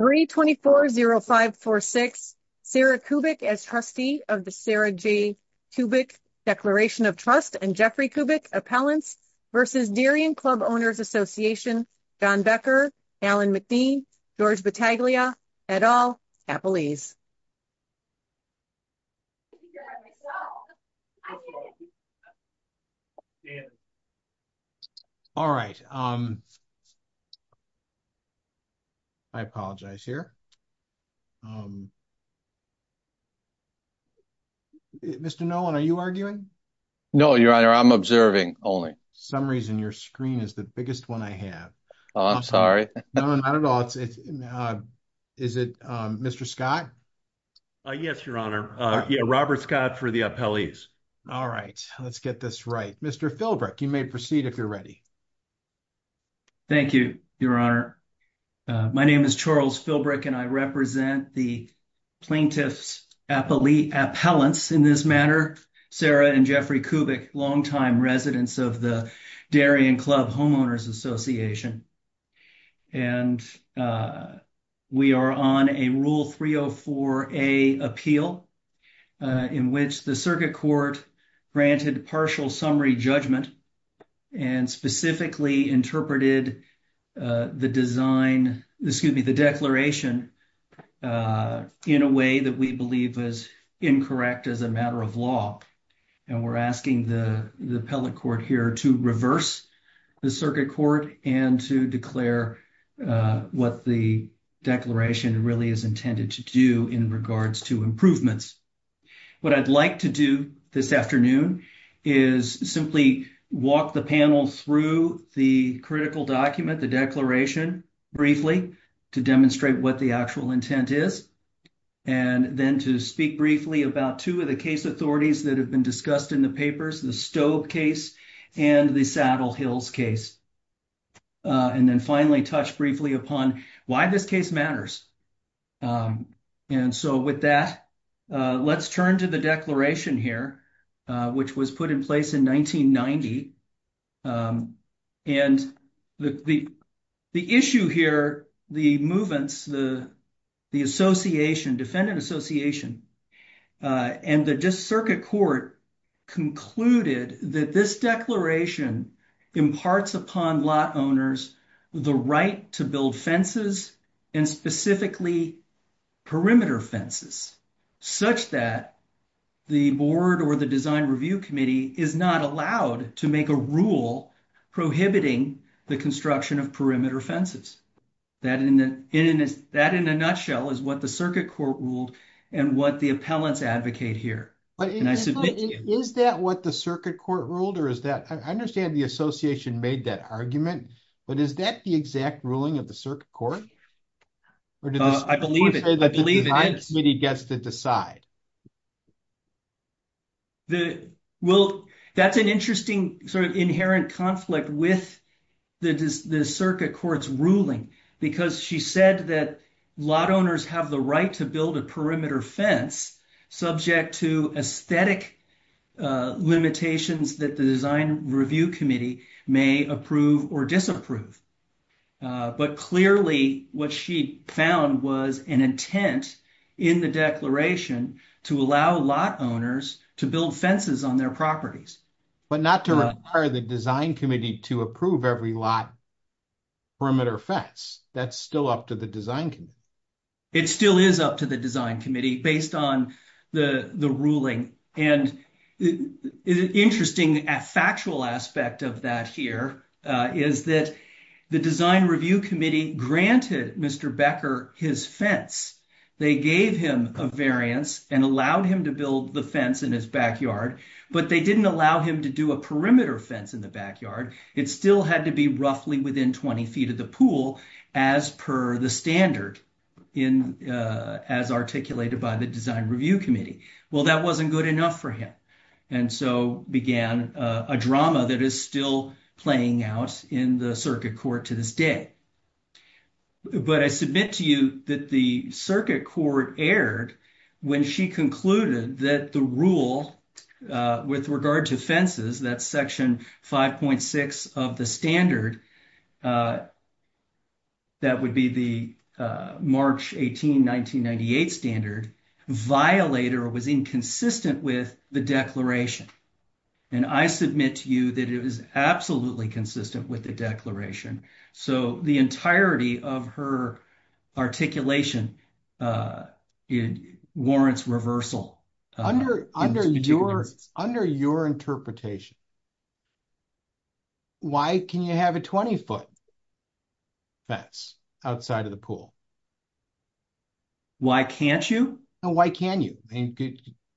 324-0546 Sarah Kubik as trustee of the Sarah J. Kubik Declaration of Trust and Jeffrey Kubik Appellants v. Darien Club Owners Association, Don Becker, Alan McDean, George Battaglia, et al., Appelese. All right. I apologize here. Mr. Nolan, are you arguing? No, your honor, I'm observing only. Some reason your screen is the biggest one I have. I'm sorry. No, not at all. Is it Mr. Scott? Yes, your honor. Yeah, Robert Scott for the appellees. All right. Let's get this right. Mr. Philbrick, you may proceed if you're ready. Thank you, your honor. My name is Charles Philbrick and I represent the plaintiffs appellate appellants in this matter, Sarah and Jeffrey Kubik, longtime residents of the Darien Club Homeowners Association. And we are on a Rule 304-A appeal in which the circuit court granted partial summary judgment and specifically interpreted the design, excuse me, the declaration in a way that we believe is incorrect as a matter of law. And we're asking the appellate court here to reverse the circuit court and to declare what the declaration really is intended to do in regards to improvements. What I'd like to do this afternoon is simply walk the panel through the critical document, the declaration briefly to demonstrate what the actual intent is. And then to speak briefly about two of the authorities that have been discussed in the papers, the Stobe case and the Saddle Hills case. And then finally touch briefly upon why this case matters. And so with that, let's turn to the declaration here, which was put in place in 1990. And the issue here, the movements, the association, defendant association, and the circuit court concluded that this declaration imparts upon lot owners the right to build fences and specifically perimeter fences such that the board or the design review committee is not allowed to make a rule prohibiting the construction of perimeter fences. Is that what the circuit court ruled? I understand the association made that argument, but is that the exact ruling of the circuit court? I believe it is. The design committee gets to decide. That's an interesting sort of inherent conflict with the circuit court's ruling because she said that lot owners have the right to build a perimeter fence subject to aesthetic limitations that the design review committee may approve or disapprove. But clearly what she found was an intent in the declaration to allow lot owners to build fences on their properties. But not to require the design committee to approve every lot perimeter fence. That's still up to the design committee. It still is up to the design committee based on the ruling. And the interesting factual aspect of that here is that the design review committee granted Mr. Becker his fence. They gave him a variance and allowed him to build the fence in his backyard, but they didn't allow him to do a perimeter fence in the backyard. It still had to be roughly within 20 feet of the pool as per the standard as articulated by the design review committee. Well, that wasn't good enough for him. And so began a drama that is still playing out in the circuit court to this day. But I submit to you that the circuit court erred when she concluded that the rule with regard to fences, that section 5.6 of the standard, that would be the March 18, 1998 standard, violated or was inconsistent with the declaration. And I submit to you that it was absolutely consistent with the declaration. So the entirety of her articulation warrants reversal. Under your interpretation, why can you have a 20-foot fence outside of the pool? Why can't you? And why can you?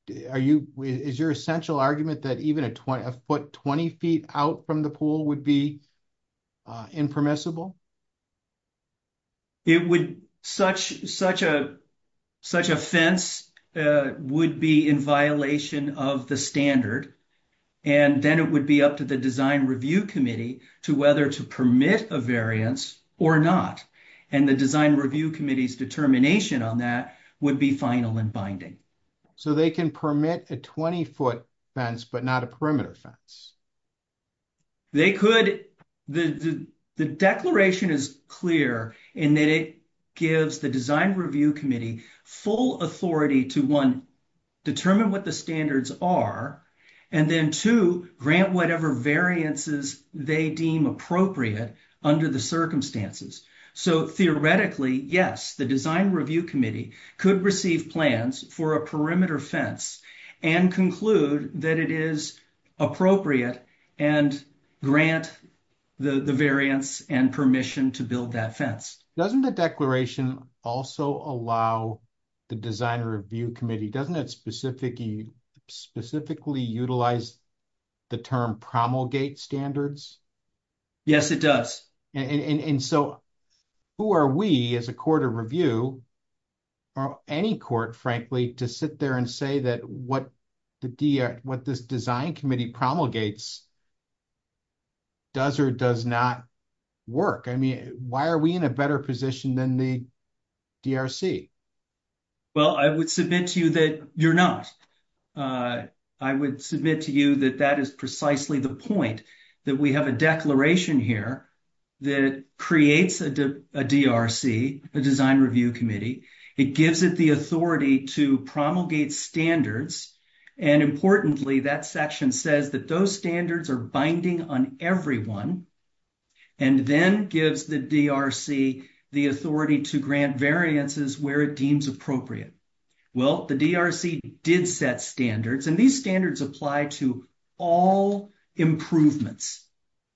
Is your essential argument that even a foot 20 feet out from the pool would be impermissible? It would, such a fence would be in violation of the standard. And then it would be up to the design review committee to whether to permit a variance or not. And the design review committee's determination on that would be final and binding. So they can permit a 20-foot fence, but not a perimeter fence? They could, the declaration is clear in that it gives the design review committee full authority to, one, determine what the standards are, and then, two, grant whatever variances they deem appropriate under the circumstances. So theoretically, yes, the design review committee could receive plans for a perimeter fence and conclude that it is appropriate and grant the variance and permission to build that fence. Doesn't the declaration also allow the design review committee, doesn't it specifically utilize the term promulgate standards? Yes, it does. And so who are we as a court of review, or any court, frankly, to sit there and say that what this design committee promulgates does or does not work? I mean, why are we in a better position than the DRC? Well, I would submit to you that you're not. I would submit to you that that is precisely the point, that we have a declaration here that creates a DRC, a design review committee. It gives it the authority to promulgate standards, and importantly, that section says that those standards are binding on everyone, and then gives the DRC the authority to grant variances where it deems appropriate. Well, the DRC did set standards, and these standards apply to all improvements.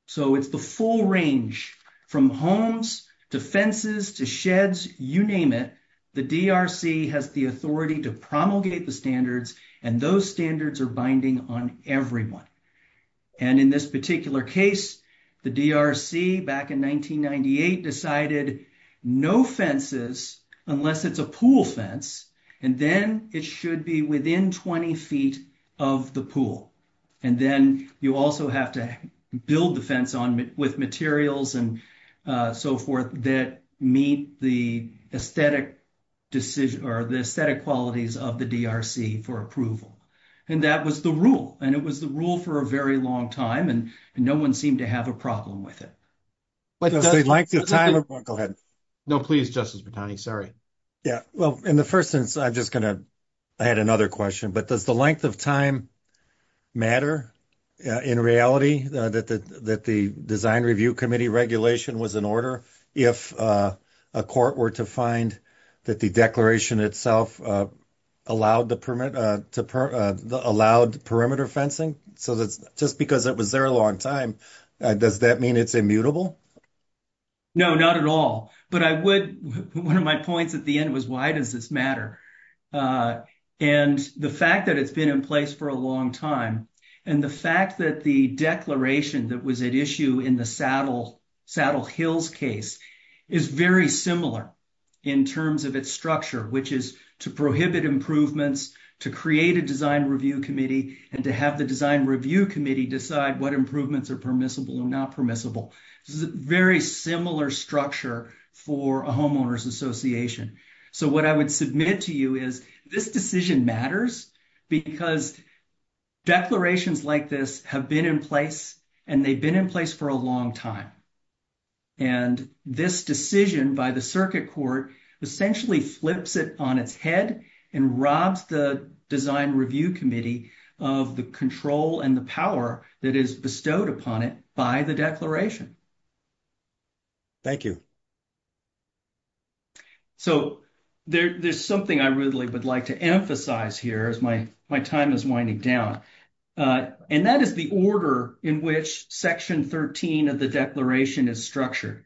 So it's the full range from homes to fences to sheds, you name it. The DRC has the authority to promulgate the standards, and those standards are binding on everyone. And in this particular case, the DRC, back in 1998, decided no fences, unless it's a pool fence, and then it should be within 20 feet of the pool. And then you also have to build the fence with materials and so forth that meet the aesthetic qualities of the DRC for approval. And that was the rule, and it was the rule for a very long time, and no one seemed to have a problem with it. Does the length of time matter in reality? That the design review committee regulation was in order if a court were to find that the declaration itself allowed perimeter fencing? So just because it was there a long time, does that mean it's immutable? No, not at all. But one of my points at the end was, why does this matter? And the fact that it's been in place for a long time, and the fact that the declaration that was at issue in the Saddle Hills case is very similar in terms of its structure, which is to prohibit improvements, to create a design review committee, and to have the design review committee decide what improvements are permissible and not permissible. This is a very similar structure for a homeowners association. So what I would submit to you is, this decision matters because declarations like this have been in place, and they've been in place for a long time. And this decision by the circuit court essentially flips it on its head and robs the design review committee of the control and the power that is bestowed upon it by the declaration. Thank you. So there's something I really would like to emphasize here as my time is winding down. And that is the order in which section 13 of the declaration is structured.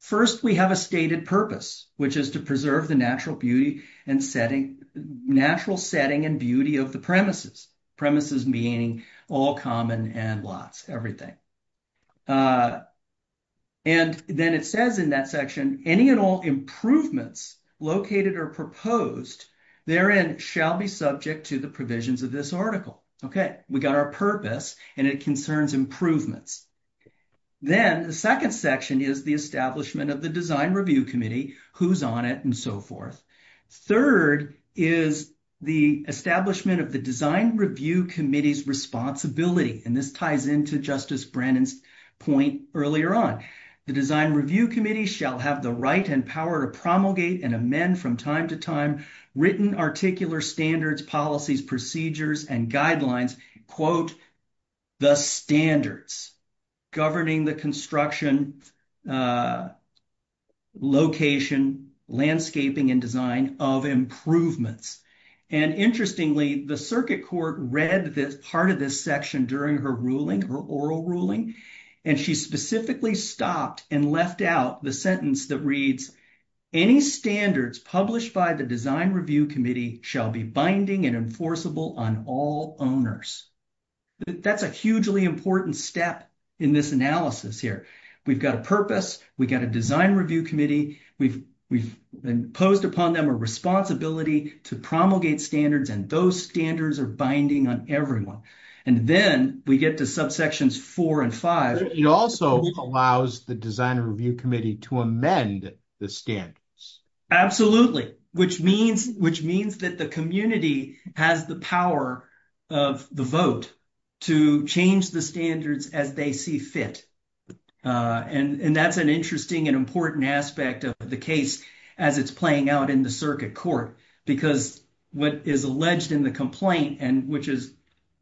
First, we have a stated purpose, which is to preserve the natural beauty and setting, natural setting and beauty of the premises. Premises meaning all common and lots, everything. And then it says in that section, any and all improvements located or proposed therein shall be subject to the provisions of this article. Okay, we got our purpose and it concerns improvements. Then the second section is the establishment of the design review committee who's on it and so forth. Third is the establishment of the design review committee's responsibility. And this ties into Justice Brennan's point earlier on. The design review committee shall have the right and power to promulgate and amend from time to time written articular standards, policies, procedures, and guidelines, quote, the standards governing the construction, location, landscaping, and design of improvements. And interestingly, the circuit court read this part of this section during her ruling, her oral ruling. And she specifically stopped and left out the sentence that reads, any standards published by the design review committee shall be binding and enforceable on all owners. That's a hugely important step in this analysis here. We've got a purpose. We got a design review committee. We've imposed upon them a responsibility to promulgate standards and those standards are binding on everyone. And then we get to subsections four and five. It also allows the design review committee to amend the standards. Absolutely. Which means that the community has the power of the vote to change the standards as they see fit. And that's an interesting and important aspect of the case as it's playing out in the circuit court. Because what is alleged in the complaint, and which is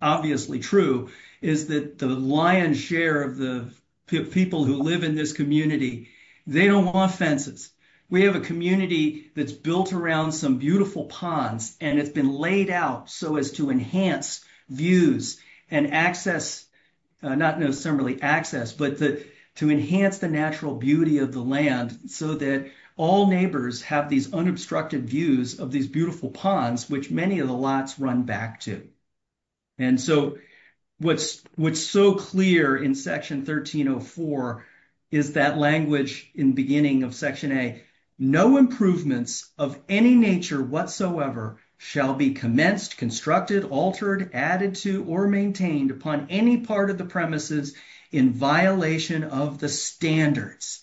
obviously true, is that the lion's share of the people who live in this community, they don't want fences. We have a community that's built around some beautiful ponds and it's been laid out so as to enhance views and access, not necessarily access, but to enhance the natural beauty of the land so that all neighbors have these unobstructed views of these beautiful ponds, which many of the lots run back to. And so what's so clear in section 1304 is that language in beginning of section A, no improvements of any nature whatsoever shall be commenced, constructed, altered, added to, or maintained upon any part of the premises in violation of the standards.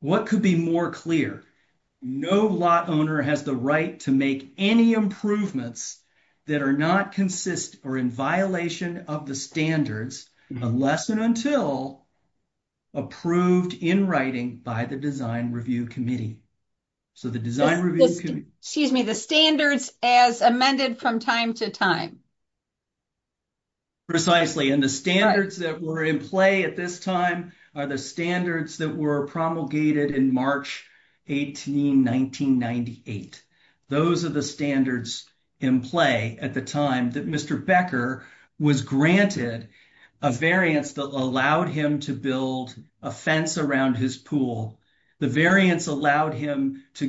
What could be more clear? No lot owner has the right to make any improvements that are not consistent or in violation of the standards unless and until approved in writing by the Design Review Committee. So the Design Review Committee... Excuse me, the standards as amended from time to time. Precisely. And the standards that were in play at this time are the standards that were promulgated in March 18, 1998. Those are the standards in play at the time that Mr. Becker was granted a variance that allowed him to build a fence around his pool. The variance allowed him to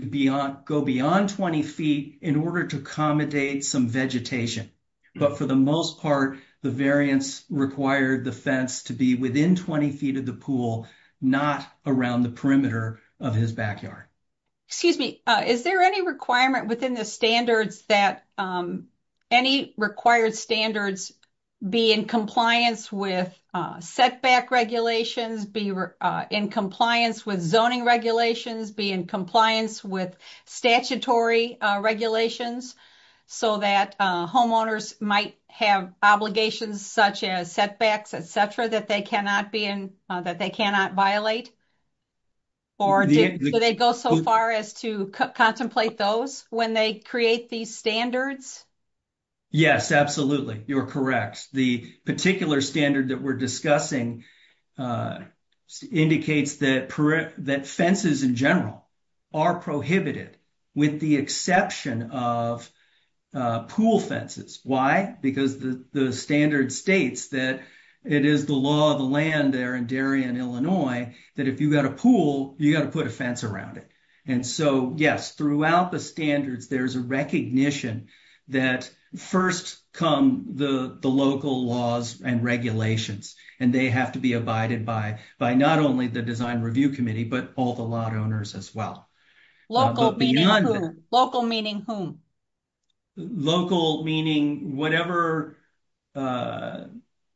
go beyond 20 feet in order to accommodate some vegetation. But for the most part, the variance required the fence to be within 20 feet of the pool, not around the perimeter of his backyard. Excuse me, is there any requirement within the standards that any required standards be in compliance with setback regulations, be in compliance with zoning regulations, be in compliance with statutory regulations so that homeowners might have obligations such as setbacks, et cetera, that they cannot violate? Or do they go so far as to contemplate those when they create these standards? Yes, absolutely, you're correct. The particular standard that we're discussing indicates that fences in general are prohibited with the exception of pool fences. Why? Because the standard states that it is the law of the land there in Darien, Illinois that if you've got a pool, you've got to put a fence around it. Yes, throughout the standards, there's a recognition that first come the local laws and regulations, and they have to be abided by not only the design review committee, but all the lot owners as well. Local meaning whom? Local meaning whatever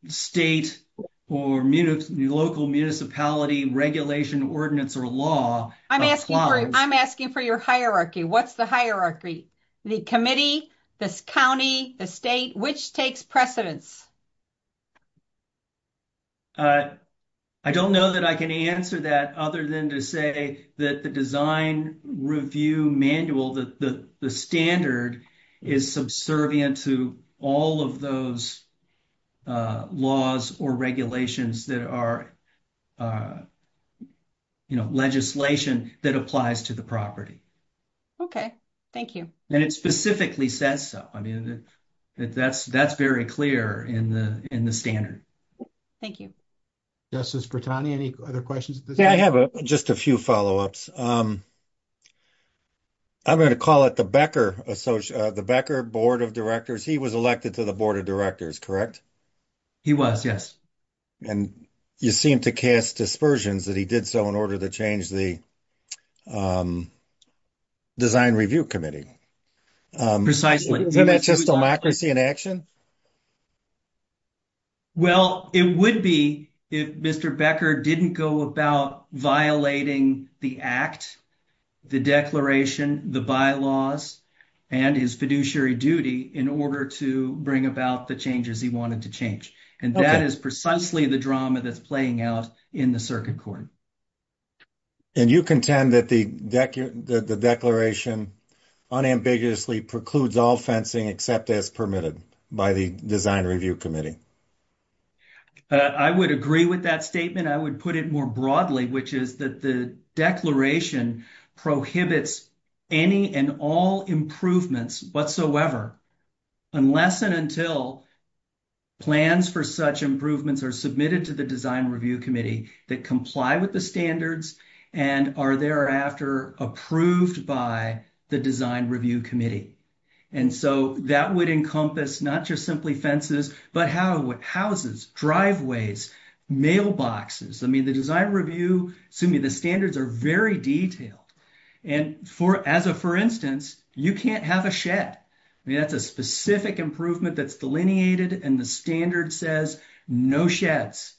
state or local municipality regulation ordinance or law. I'm asking for your hierarchy. What's the hierarchy? The committee, the county, the state, which takes precedence? I don't know that I can answer that other than to say that the design review manual, that the standard is subservient to all of those laws or regulations that are legislation that applies to the property. OK, thank you. And it specifically says so. I mean, that's very clear in the standard. Thank you. Justice Brittani, any other questions? Yeah, I have just a few follow-ups. I'm going to call it the Becker board of directors. He was elected to the board of directors, correct? He was, yes. And you seem to cast dispersions that he did so in order to change the design review committee. Precisely. Isn't that just democracy in action? Well, it would be if Mr. Becker didn't go about violating the act, the declaration, the bylaws, and his fiduciary duty in order to bring about the changes he wanted to change. And that is precisely the drama that's playing out in the circuit court. And you contend that the declaration unambiguously precludes all fencing except as permitted by the design review committee? I would agree with that statement. I would put it more broadly, which is that the declaration prohibits any and all improvements whatsoever unless and until plans for such improvements are submitted to the design review committee that comply with the standards and are thereafter approved by the design review committee. And so that would encompass not just simply fences, but houses, driveways, mailboxes. I mean, the design review, assuming the standards are very detailed. And for instance, you can't have a shed. That's a specific improvement that's delineated. And the standard says no sheds.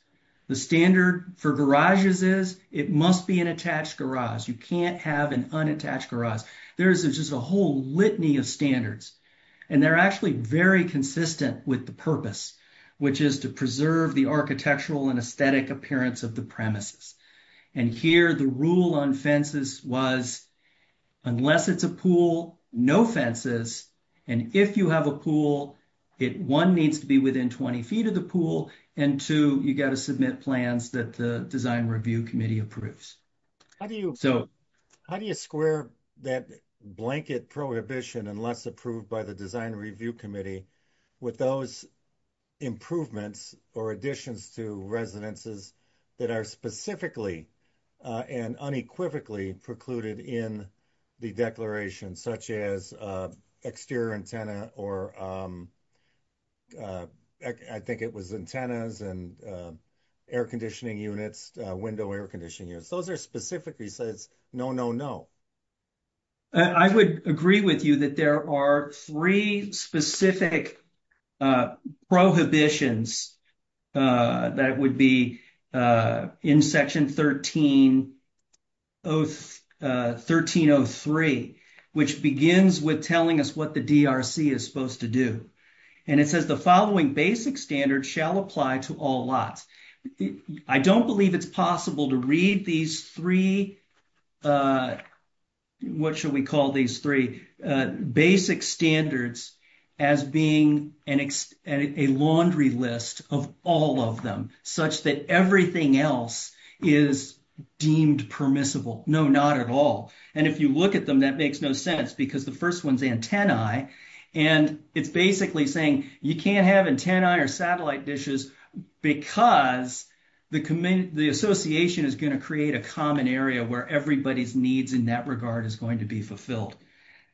The standard for garages is it must be an attached garage. You can't have an unattached garage. There's just a whole litany of standards. And they're actually very consistent with the purpose, which is to preserve the architectural and aesthetic appearance of the premises. And here the rule on fences was unless it's a pool, no fences. And if you have a pool, one needs to be within 20 feet of the pool. And two, you got to submit plans that the design review committee approves. How do you square that blanket prohibition unless approved by the design review committee with those improvements or additions to residences that are specifically and unequivocally precluded in the declaration, such as exterior antenna, or I think it was antennas and air conditioning units, window air conditioning units. Those are specifically says no, no, no. And I would agree with you that there are three specific prohibitions that would be in section 1303, which begins with telling us what the DRC is supposed to do. And it says the following basic standards shall apply to all lots. I don't believe it's possible to read these three, what should we call these three basic standards as being a laundry list of all of them such that everything else is deemed permissible. No, not at all. And if you look at them, that makes no sense because the first one's antennae. And it's basically saying you can't have antennae or satellite dishes because the association is going to create a common area where everybody's needs in that regard is going to be fulfilled.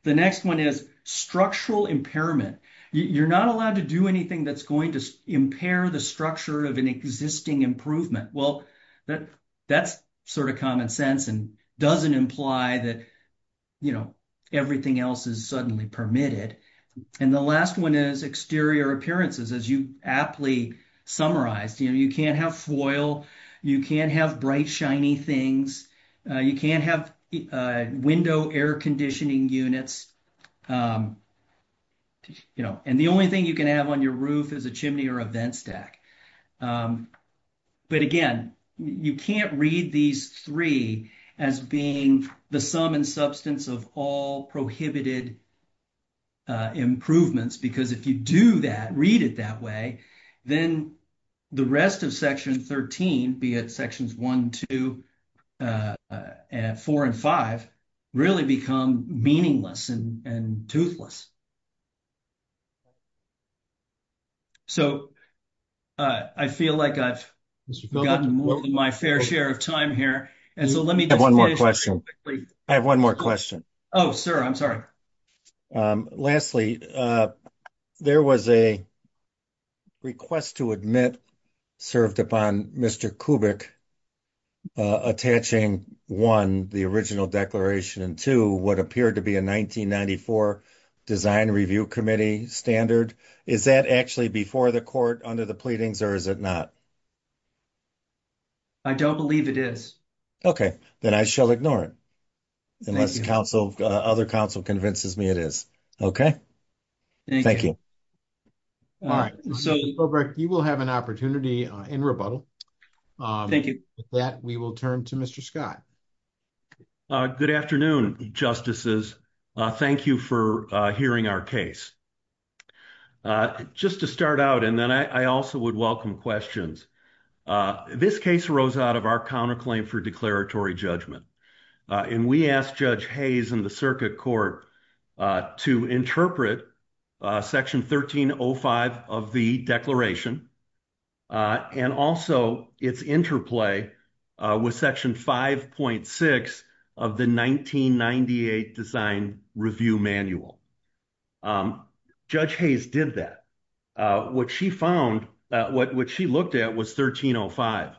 The next one is structural impairment. You're not allowed to do anything that's going to impair the structure of an existing improvement. Well, that's sort of common sense and doesn't imply that everything else is suddenly permitted. And the last one is exterior appearances. As you aptly summarized, you can't have foil. You can't have bright, shiny things. You can't have window air conditioning units. And the only thing you can have on your roof is a chimney or a vent stack. But again, you can't read these three as being the sum and substance of all prohibited improvements because if you do that, read it that way, then the rest of Section 13, be it Sections 1, 2, 4, and 5, really become meaningless and toothless. So I feel like I've gotten more than my fair share of time here. And so let me just finish very quickly. I have one more question. Oh, sir, I'm sorry. Lastly, there was a request to admit served upon Mr. Kubik attaching, one, the original declaration, and two, what appeared to be a 1994 Design Review Committee standard. Is that actually before the court, under the pleadings, or is it not? I don't believe it is. Okay, then I shall ignore it unless the other counsel convinces me it is. Okay, thank you. All right, Mr. Kubik, you will have an opportunity in rebuttal. Thank you. With that, we will turn to Mr. Scott. Good afternoon, Justices. Thank you for hearing our case. Just to start out, and then I also would welcome questions. This case rose out of our counterclaim for declaratory judgment. And we asked Judge Hayes in the circuit court to interpret Section 1305 of the declaration, and also its interplay with Section 5.6 of the 1998 Design Review Manual. Judge Hayes did that. What she found, what she looked at was 1305.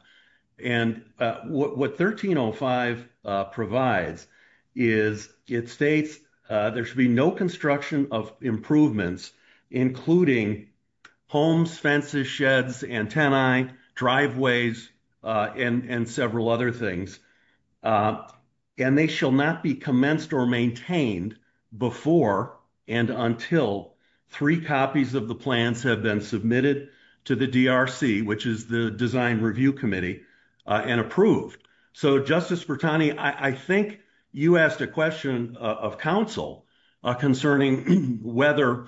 And what 1305 provides is it states there should be no construction of improvements, including homes, fences, sheds, antennae, driveways, and several other things. And they shall not be commenced or maintained before and until three copies of the plans have been submitted to the DRC, which is the Design Review Committee, and approved. So Justice Bertani, I think you asked a question of counsel concerning whether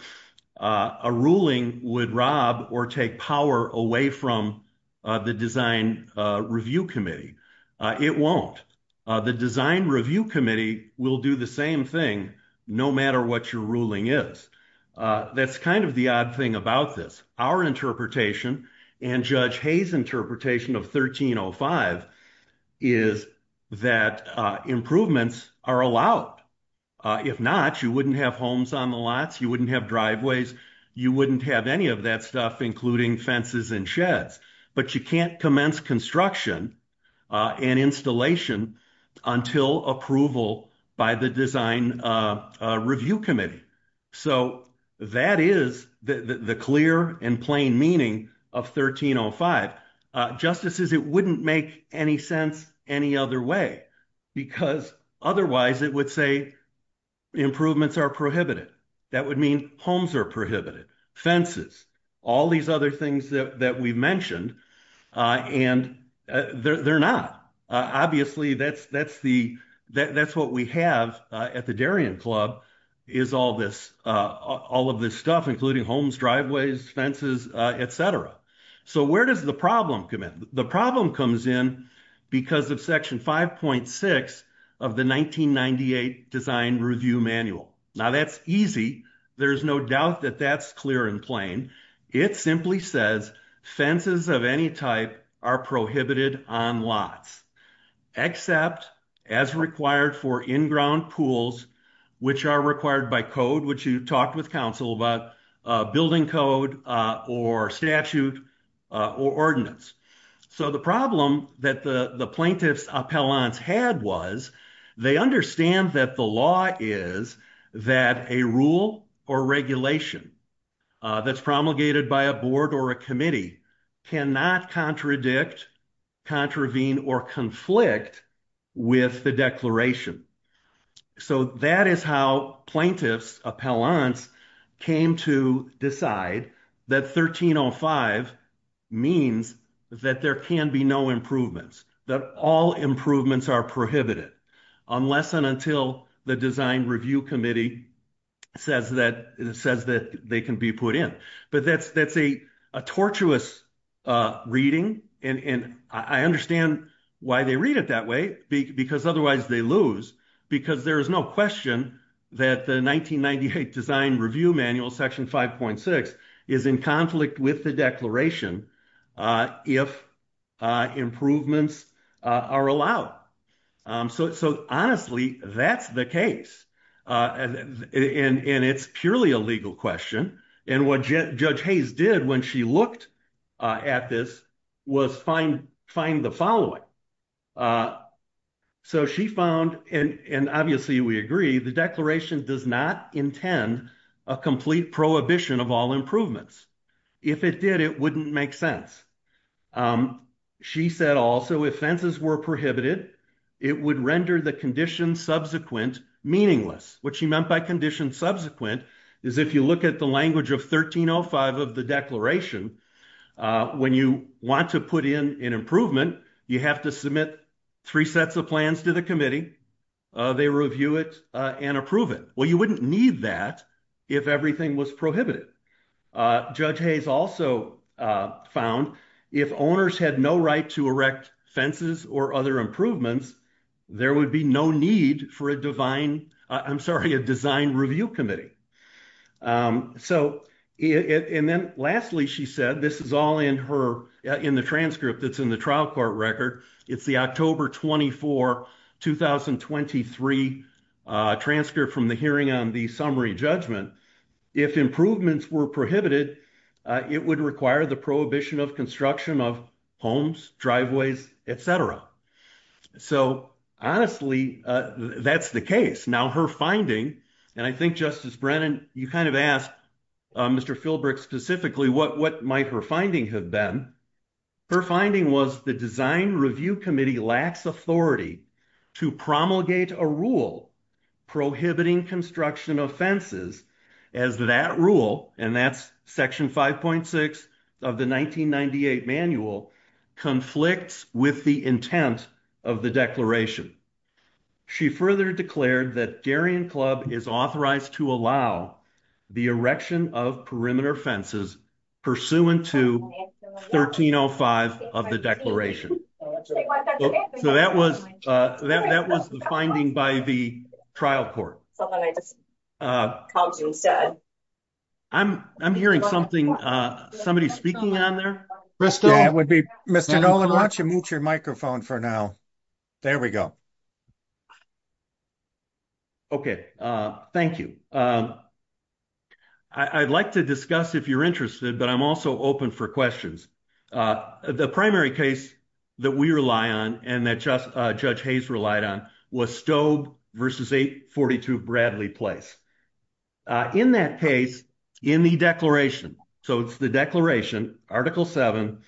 a ruling would rob or take power away from the Design Review Committee. It won't. The Design Review Committee will do the same thing no matter what your ruling is. That's kind of the odd thing about this. Our interpretation and Judge Hayes' interpretation of 1305 is that improvements are allowed. If not, you wouldn't have homes on the lots, you wouldn't have driveways, you wouldn't have any of that stuff, including fences and sheds. But you can't commence construction and installation until approval by the Design Review Committee. So that is the clear and plain meaning of 1305. Justices, it wouldn't make any sense any other way because otherwise it would say improvements are prohibited. That would mean homes are prohibited, fences, all these other things that we've mentioned, and they're not. Obviously, that's what we have at the Darien Club is all of this stuff, including homes, driveways, fences, et cetera. So where does the problem come in? The problem comes in because of Section 5.6 of the 1998 Design Review Manual. Now that's easy. There's no doubt that that's clear and plain. It simply says fences of any type are prohibited on lots except as required for in-ground pools, which are required by code, which you talked with counsel about building code or statute or ordinance. So the problem that the plaintiff's appellants had was they understand that the law is that a rule or regulation that's promulgated by a board or a committee cannot contradict, contravene, or conflict with the declaration. So that is how plaintiffs' appellants came to decide that 1305 means that there can be no improvements, that all improvements are prohibited unless and until the Design Review Committee says that they can be put in. But that's a tortuous reading, and I understand why they read it that way because otherwise they lose, because there is no question that the 1998 Design Review Manual, Section 5.6, is in conflict with the declaration if improvements are allowed. So honestly, that's the case, and it's purely a legal question. And what Judge Hayes did when she looked at this was find the following. So she found, and obviously we agree, the declaration does not intend a complete prohibition of all improvements. If it did, it wouldn't make sense. She said also if fences were prohibited, it would render the condition subsequent meaningless. What she meant by condition subsequent is if you look at the language of 1305 of the declaration, when you want to put in an improvement, you have to submit three sets of plans to the committee. They review it and approve it. Well, you wouldn't need that if everything was prohibited. Judge Hayes also found if owners had no right to erect fences or other improvements, there would be no need for a design review committee. And then lastly, she said, this is all in the transcript that's in the trial court record. It's the October 24, 2023 transcript from the hearing on the summary judgment. If improvements were prohibited, it would require the prohibition of construction of homes, driveways, et cetera. So honestly, that's the case. Now her finding, and I think Justice Brennan, you kind of asked Mr. Philbrick specifically what might her finding have been. Her finding was the design review committee lacks authority to promulgate a rule prohibiting construction of fences as that rule. And that's section 5.6 of the 1998 manual conflicts with the intent of the declaration. She further declared that Darien Club is authorized to allow the erection of perimeter fences pursuant to 1305 of the declaration. So that was the finding by the trial court. I'm hearing something, somebody speaking on there. Mr. Nolan, why don't you move your microphone for now. There we go. Okay, thank you. I'd like to discuss if you're interested, but I'm also open for questions. The primary case that we rely on and that Judge Hayes relied on was Stobe versus 842 Bradley Place. In that case, in the declaration, so it's the declaration, article seven,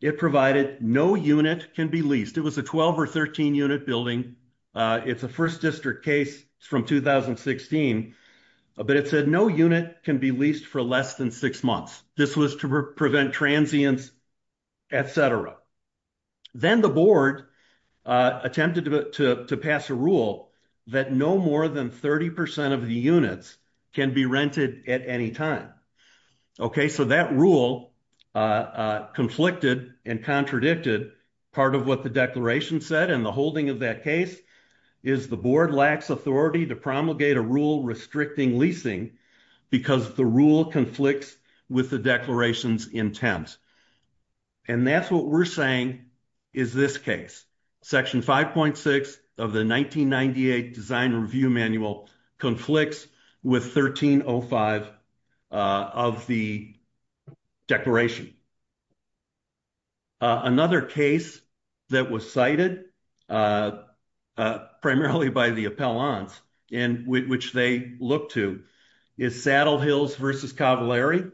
it provided no unit can be leased. It was a 12 or 13 unit building. It's a first district case from 2016. But it said no unit can be leased for less than six months. This was to prevent transients, et cetera. Then the board attempted to pass a rule that no more than 30% of the units can be rented at any time. Okay, so that rule conflicted and contradicted part of what the declaration said. And the holding of that case is the board lacks authority to promulgate a rule restricting leasing because the rule conflicts with the declaration's intent. And that's what we're saying is this case. Section 5.6 of the 1998 Design Review Manual conflicts with 1305 of the declaration. Another case that was cited primarily by the appellants which they looked to is Saddle Hills versus Cavallari.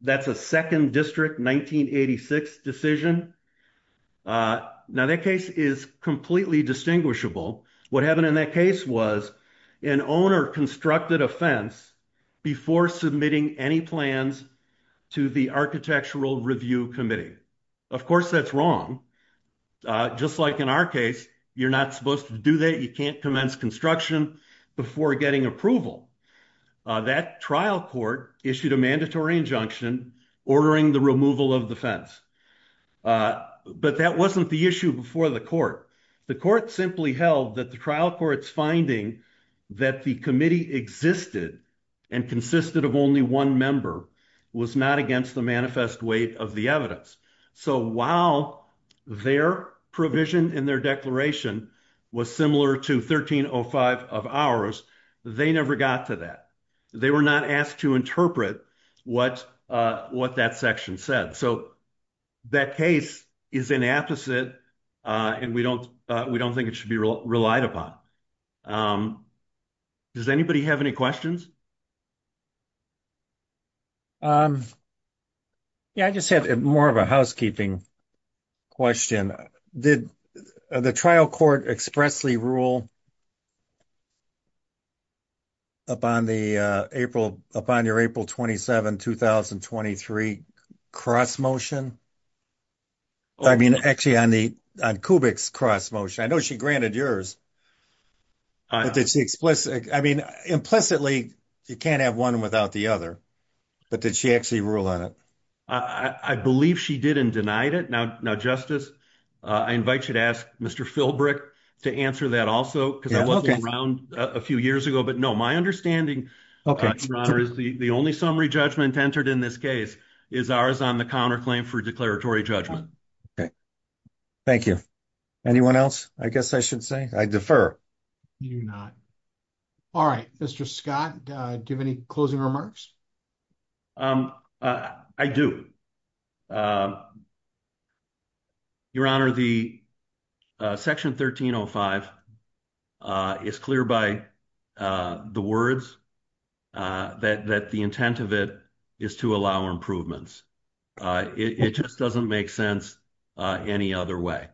That's a second district 1986 decision. Now that case is completely distinguishable. What happened in that case was an owner constructed a fence before submitting any plans to the Architectural Review Committee. Of course, that's wrong. Just like in our case, you're not supposed to do that. You can't commence construction. Before getting approval, that trial court issued a mandatory injunction ordering the removal of the fence. But that wasn't the issue before the court. The court simply held that the trial court's finding that the committee existed and consisted of only one member was not against the manifest weight of the evidence. So while their provision in their declaration was similar to 1305 of ours, they never got to that. They were not asked to interpret what that section said. So that case is an apposite and we don't think it should be relied upon. Does anybody have any questions? Yeah, I just have more of a housekeeping question. Did the trial court expressly rule upon your April 27, 2023 cross motion? I mean, actually on Kubik's cross motion. I know she granted yours. I mean, implicitly, you can't have one without the other. But did she actually rule on it? I believe she did and denied it. Now, Justice, I invite you to ask Mr. Philbrick to answer that also because I wasn't around a few years ago. But no, my understanding is the only summary judgment entered in this case is ours on the counterclaim for declaratory judgment. Okay, thank you. Anyone else? I guess I should say I defer. You do not. All right, Mr. Scott, do you have any closing remarks? I do. Your Honor, the Section 1305 is clear by the words that the intent of it is to allow improvements. It just doesn't make sense any other way.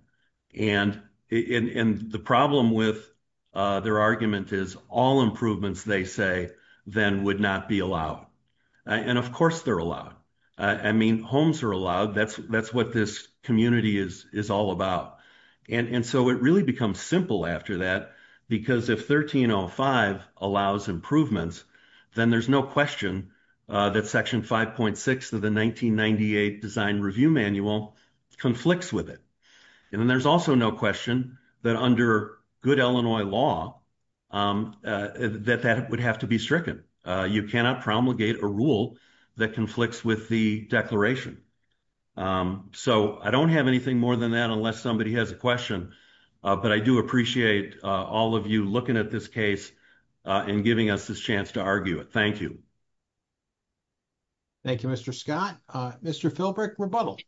And the problem with their argument is all improvements they say then would not be allowed. And of course they're allowed. I mean, homes are allowed. That's what this community is all about. And so it really becomes simple after that because if 1305 allows improvements, then there's no question that Section 5.6 of the 1998 Design Review Manual conflicts with it. And then there's also no question that under good Illinois law, that that would have to be stricken. You cannot promulgate a rule that conflicts with the declaration. So I don't have anything more than that unless somebody has a question, but I do appreciate all of you looking at this case and giving us this chance to argue it. Thank you. Thank you, Mr. Scott. Mr. Philbrick, rebuttal.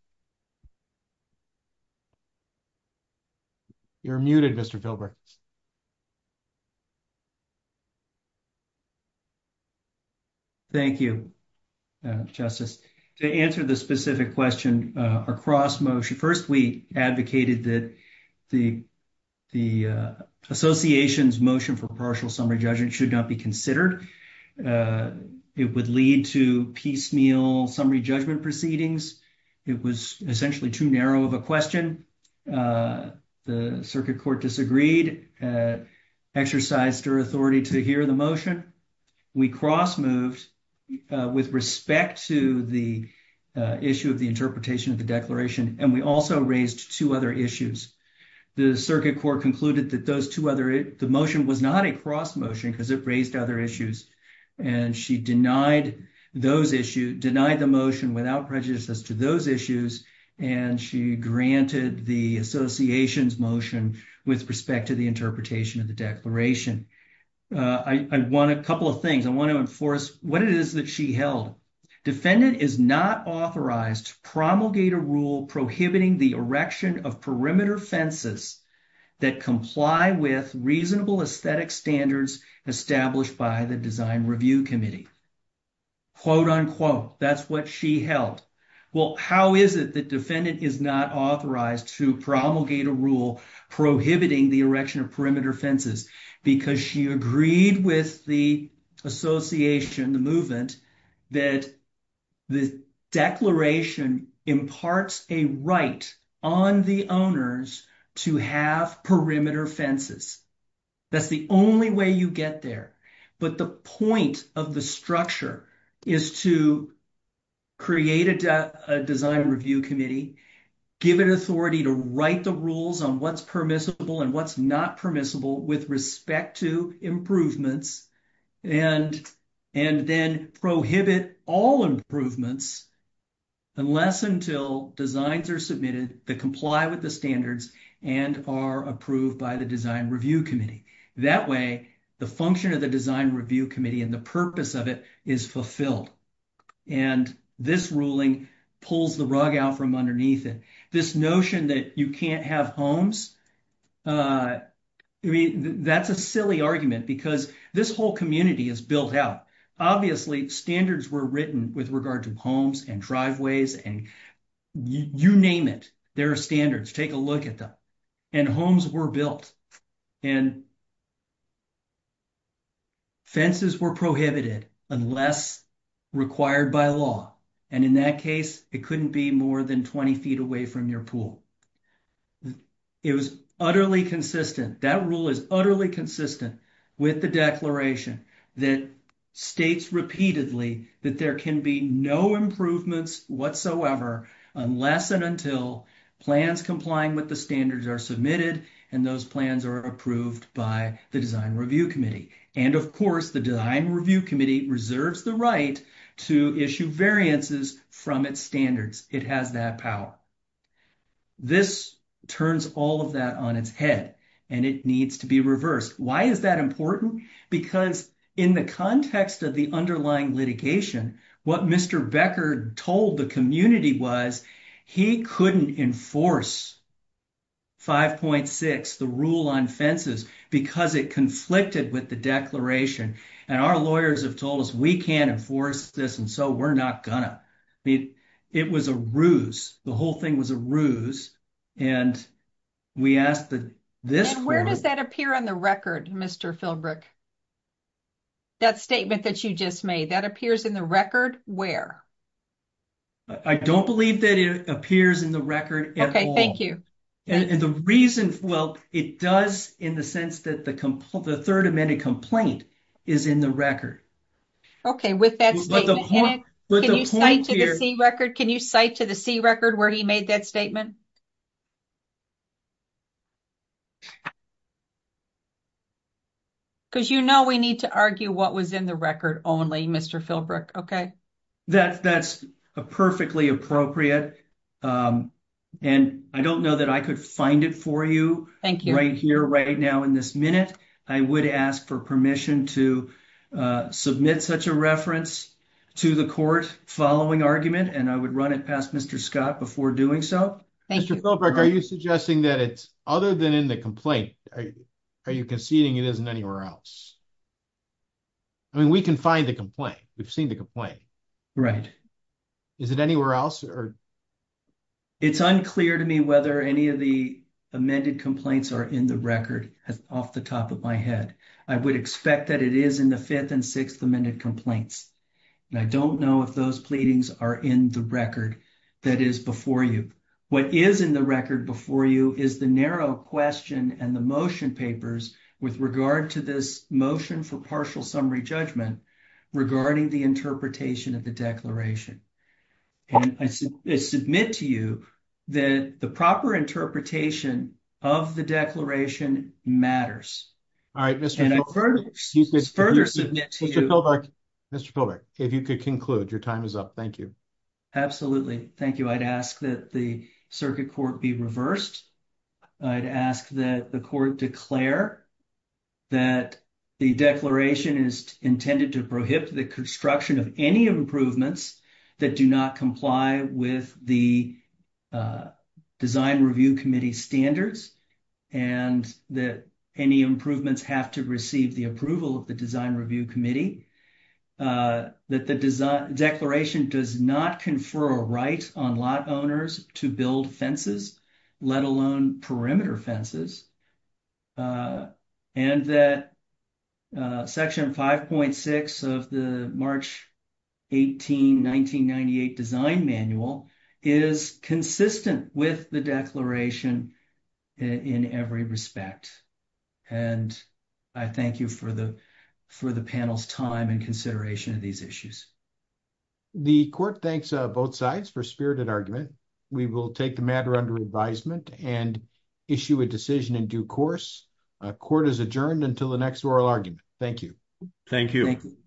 You're muted, Mr. Philbrick. Thank you, Justice. To answer the specific question across motion, first, we advocated that the association's motion for partial summary judgment should not be considered. It would lead to piecemeal summary judgment proceedings. It was essentially too narrow of a question. The circuit court disagreed, exercised her authority to hear the motion. We cross moved with respect to the issue of the interpretation of the declaration. And we also raised two other issues. The circuit court concluded that those two other, the motion was not a cross motion because it raised other issues. And she denied those issues, denied the motion without prejudice as to those issues. And she granted the association's motion with respect to the interpretation of the declaration. I want a couple of things. I want to enforce what it is that she held. Defendant is not authorized to promulgate a rule prohibiting the erection of perimeter fences that comply with reasonable aesthetic standards established by the Design Review Committee. Quote unquote, that's what she held. Well, how is it that defendant is not authorized to promulgate a rule prohibiting the erection of perimeter fences? Because she agreed with the association, the movement, that the declaration imparts a right on the owners to have perimeter fences. That's the only way you get there. But the point of the structure is to create a Design Review Committee, give it authority to write the rules on what's permissible and what's not permissible with respect to improvements, and then prohibit all improvements unless until designs are submitted that comply with the standards and are approved by the Design Review Committee. That way, the function of the Design Review Committee and the purpose of it is fulfilled. And this ruling pulls the rug out from underneath it. This notion that you can't have homes, I mean, that's a silly argument because this whole community is built out. Obviously, standards were written with regard to homes and driveways and you name it, there are standards. Take a look at them. And homes were built. And fences were prohibited unless required by law. And in that case, it couldn't be more than 20 feet away from your pool. It was utterly consistent. That rule is utterly consistent with the declaration that states repeatedly that there can be no improvements whatsoever unless and until plans complying with the standards are submitted and those plans are approved by the Design Review Committee. And of course, the Design Review Committee reserves the right to issue variances from its standards. It has that power. This turns all of that on its head and it needs to be reversed. Why is that important? Because in the context of the underlying litigation, what Mr. Becker told the community was he couldn't enforce 5.6, the rule on fences, because it conflicted with the declaration. And our lawyers have told us we can't enforce this and so we're not gonna. It was a ruse. The whole thing was a ruse. And we asked that this- And where does that appear on the record, Mr. Philbrick? That statement that you just made, that appears in the record where? I don't believe that it appears in the record at all. Okay, thank you. And the reason, well, it does in the sense that the third amendment complaint is in the record. Okay, with that statement in it, can you cite to the C record? Where he made that statement? Because you know we need to argue what was in the record only, Mr. Philbrick, okay? That's perfectly appropriate. And I don't know that I could find it for you- Right here, right now in this minute. I would ask for permission to submit such a reference to the court following argument and I would run it past Mr. Scott before doing so. Mr. Philbrick, are you suggesting that it's other than in the complaint? Are you conceding it isn't anywhere else? I mean, we can find the complaint. We've seen the complaint. Right. Is it anywhere else or? It's unclear to me whether any of the amended complaints are in the record off the top of my head. I would expect that it is in the fifth and sixth amended complaints. And I don't know if those pleadings are in the record that is before you. What is in the record before you is the narrow question and the motion papers with regard to this motion for partial summary judgment regarding the interpretation of the declaration. And I submit to you that the proper interpretation of the declaration matters. All right, Mr. Philbrick, Mr. Philbrick. If you could conclude, your time is up. Thank you. Absolutely. Thank you. I'd ask that the circuit court be reversed. I'd ask that the court declare that the declaration is intended to prohibit the construction of any improvements that do not comply with the design review committee standards and that any improvements have to receive the approval of the design review committee. That the declaration does not confer a right on lot owners to build fences, let alone perimeter fences. And that section 5.6 of the March 18, 1998 design manual is consistent with the declaration in every respect. And I thank you for the panel's time and consideration of these issues. The court thanks both sides for spirited argument. We will take the matter under advisement and issue a decision in due course. Court is adjourned until the next oral argument. Thank you. Thank you.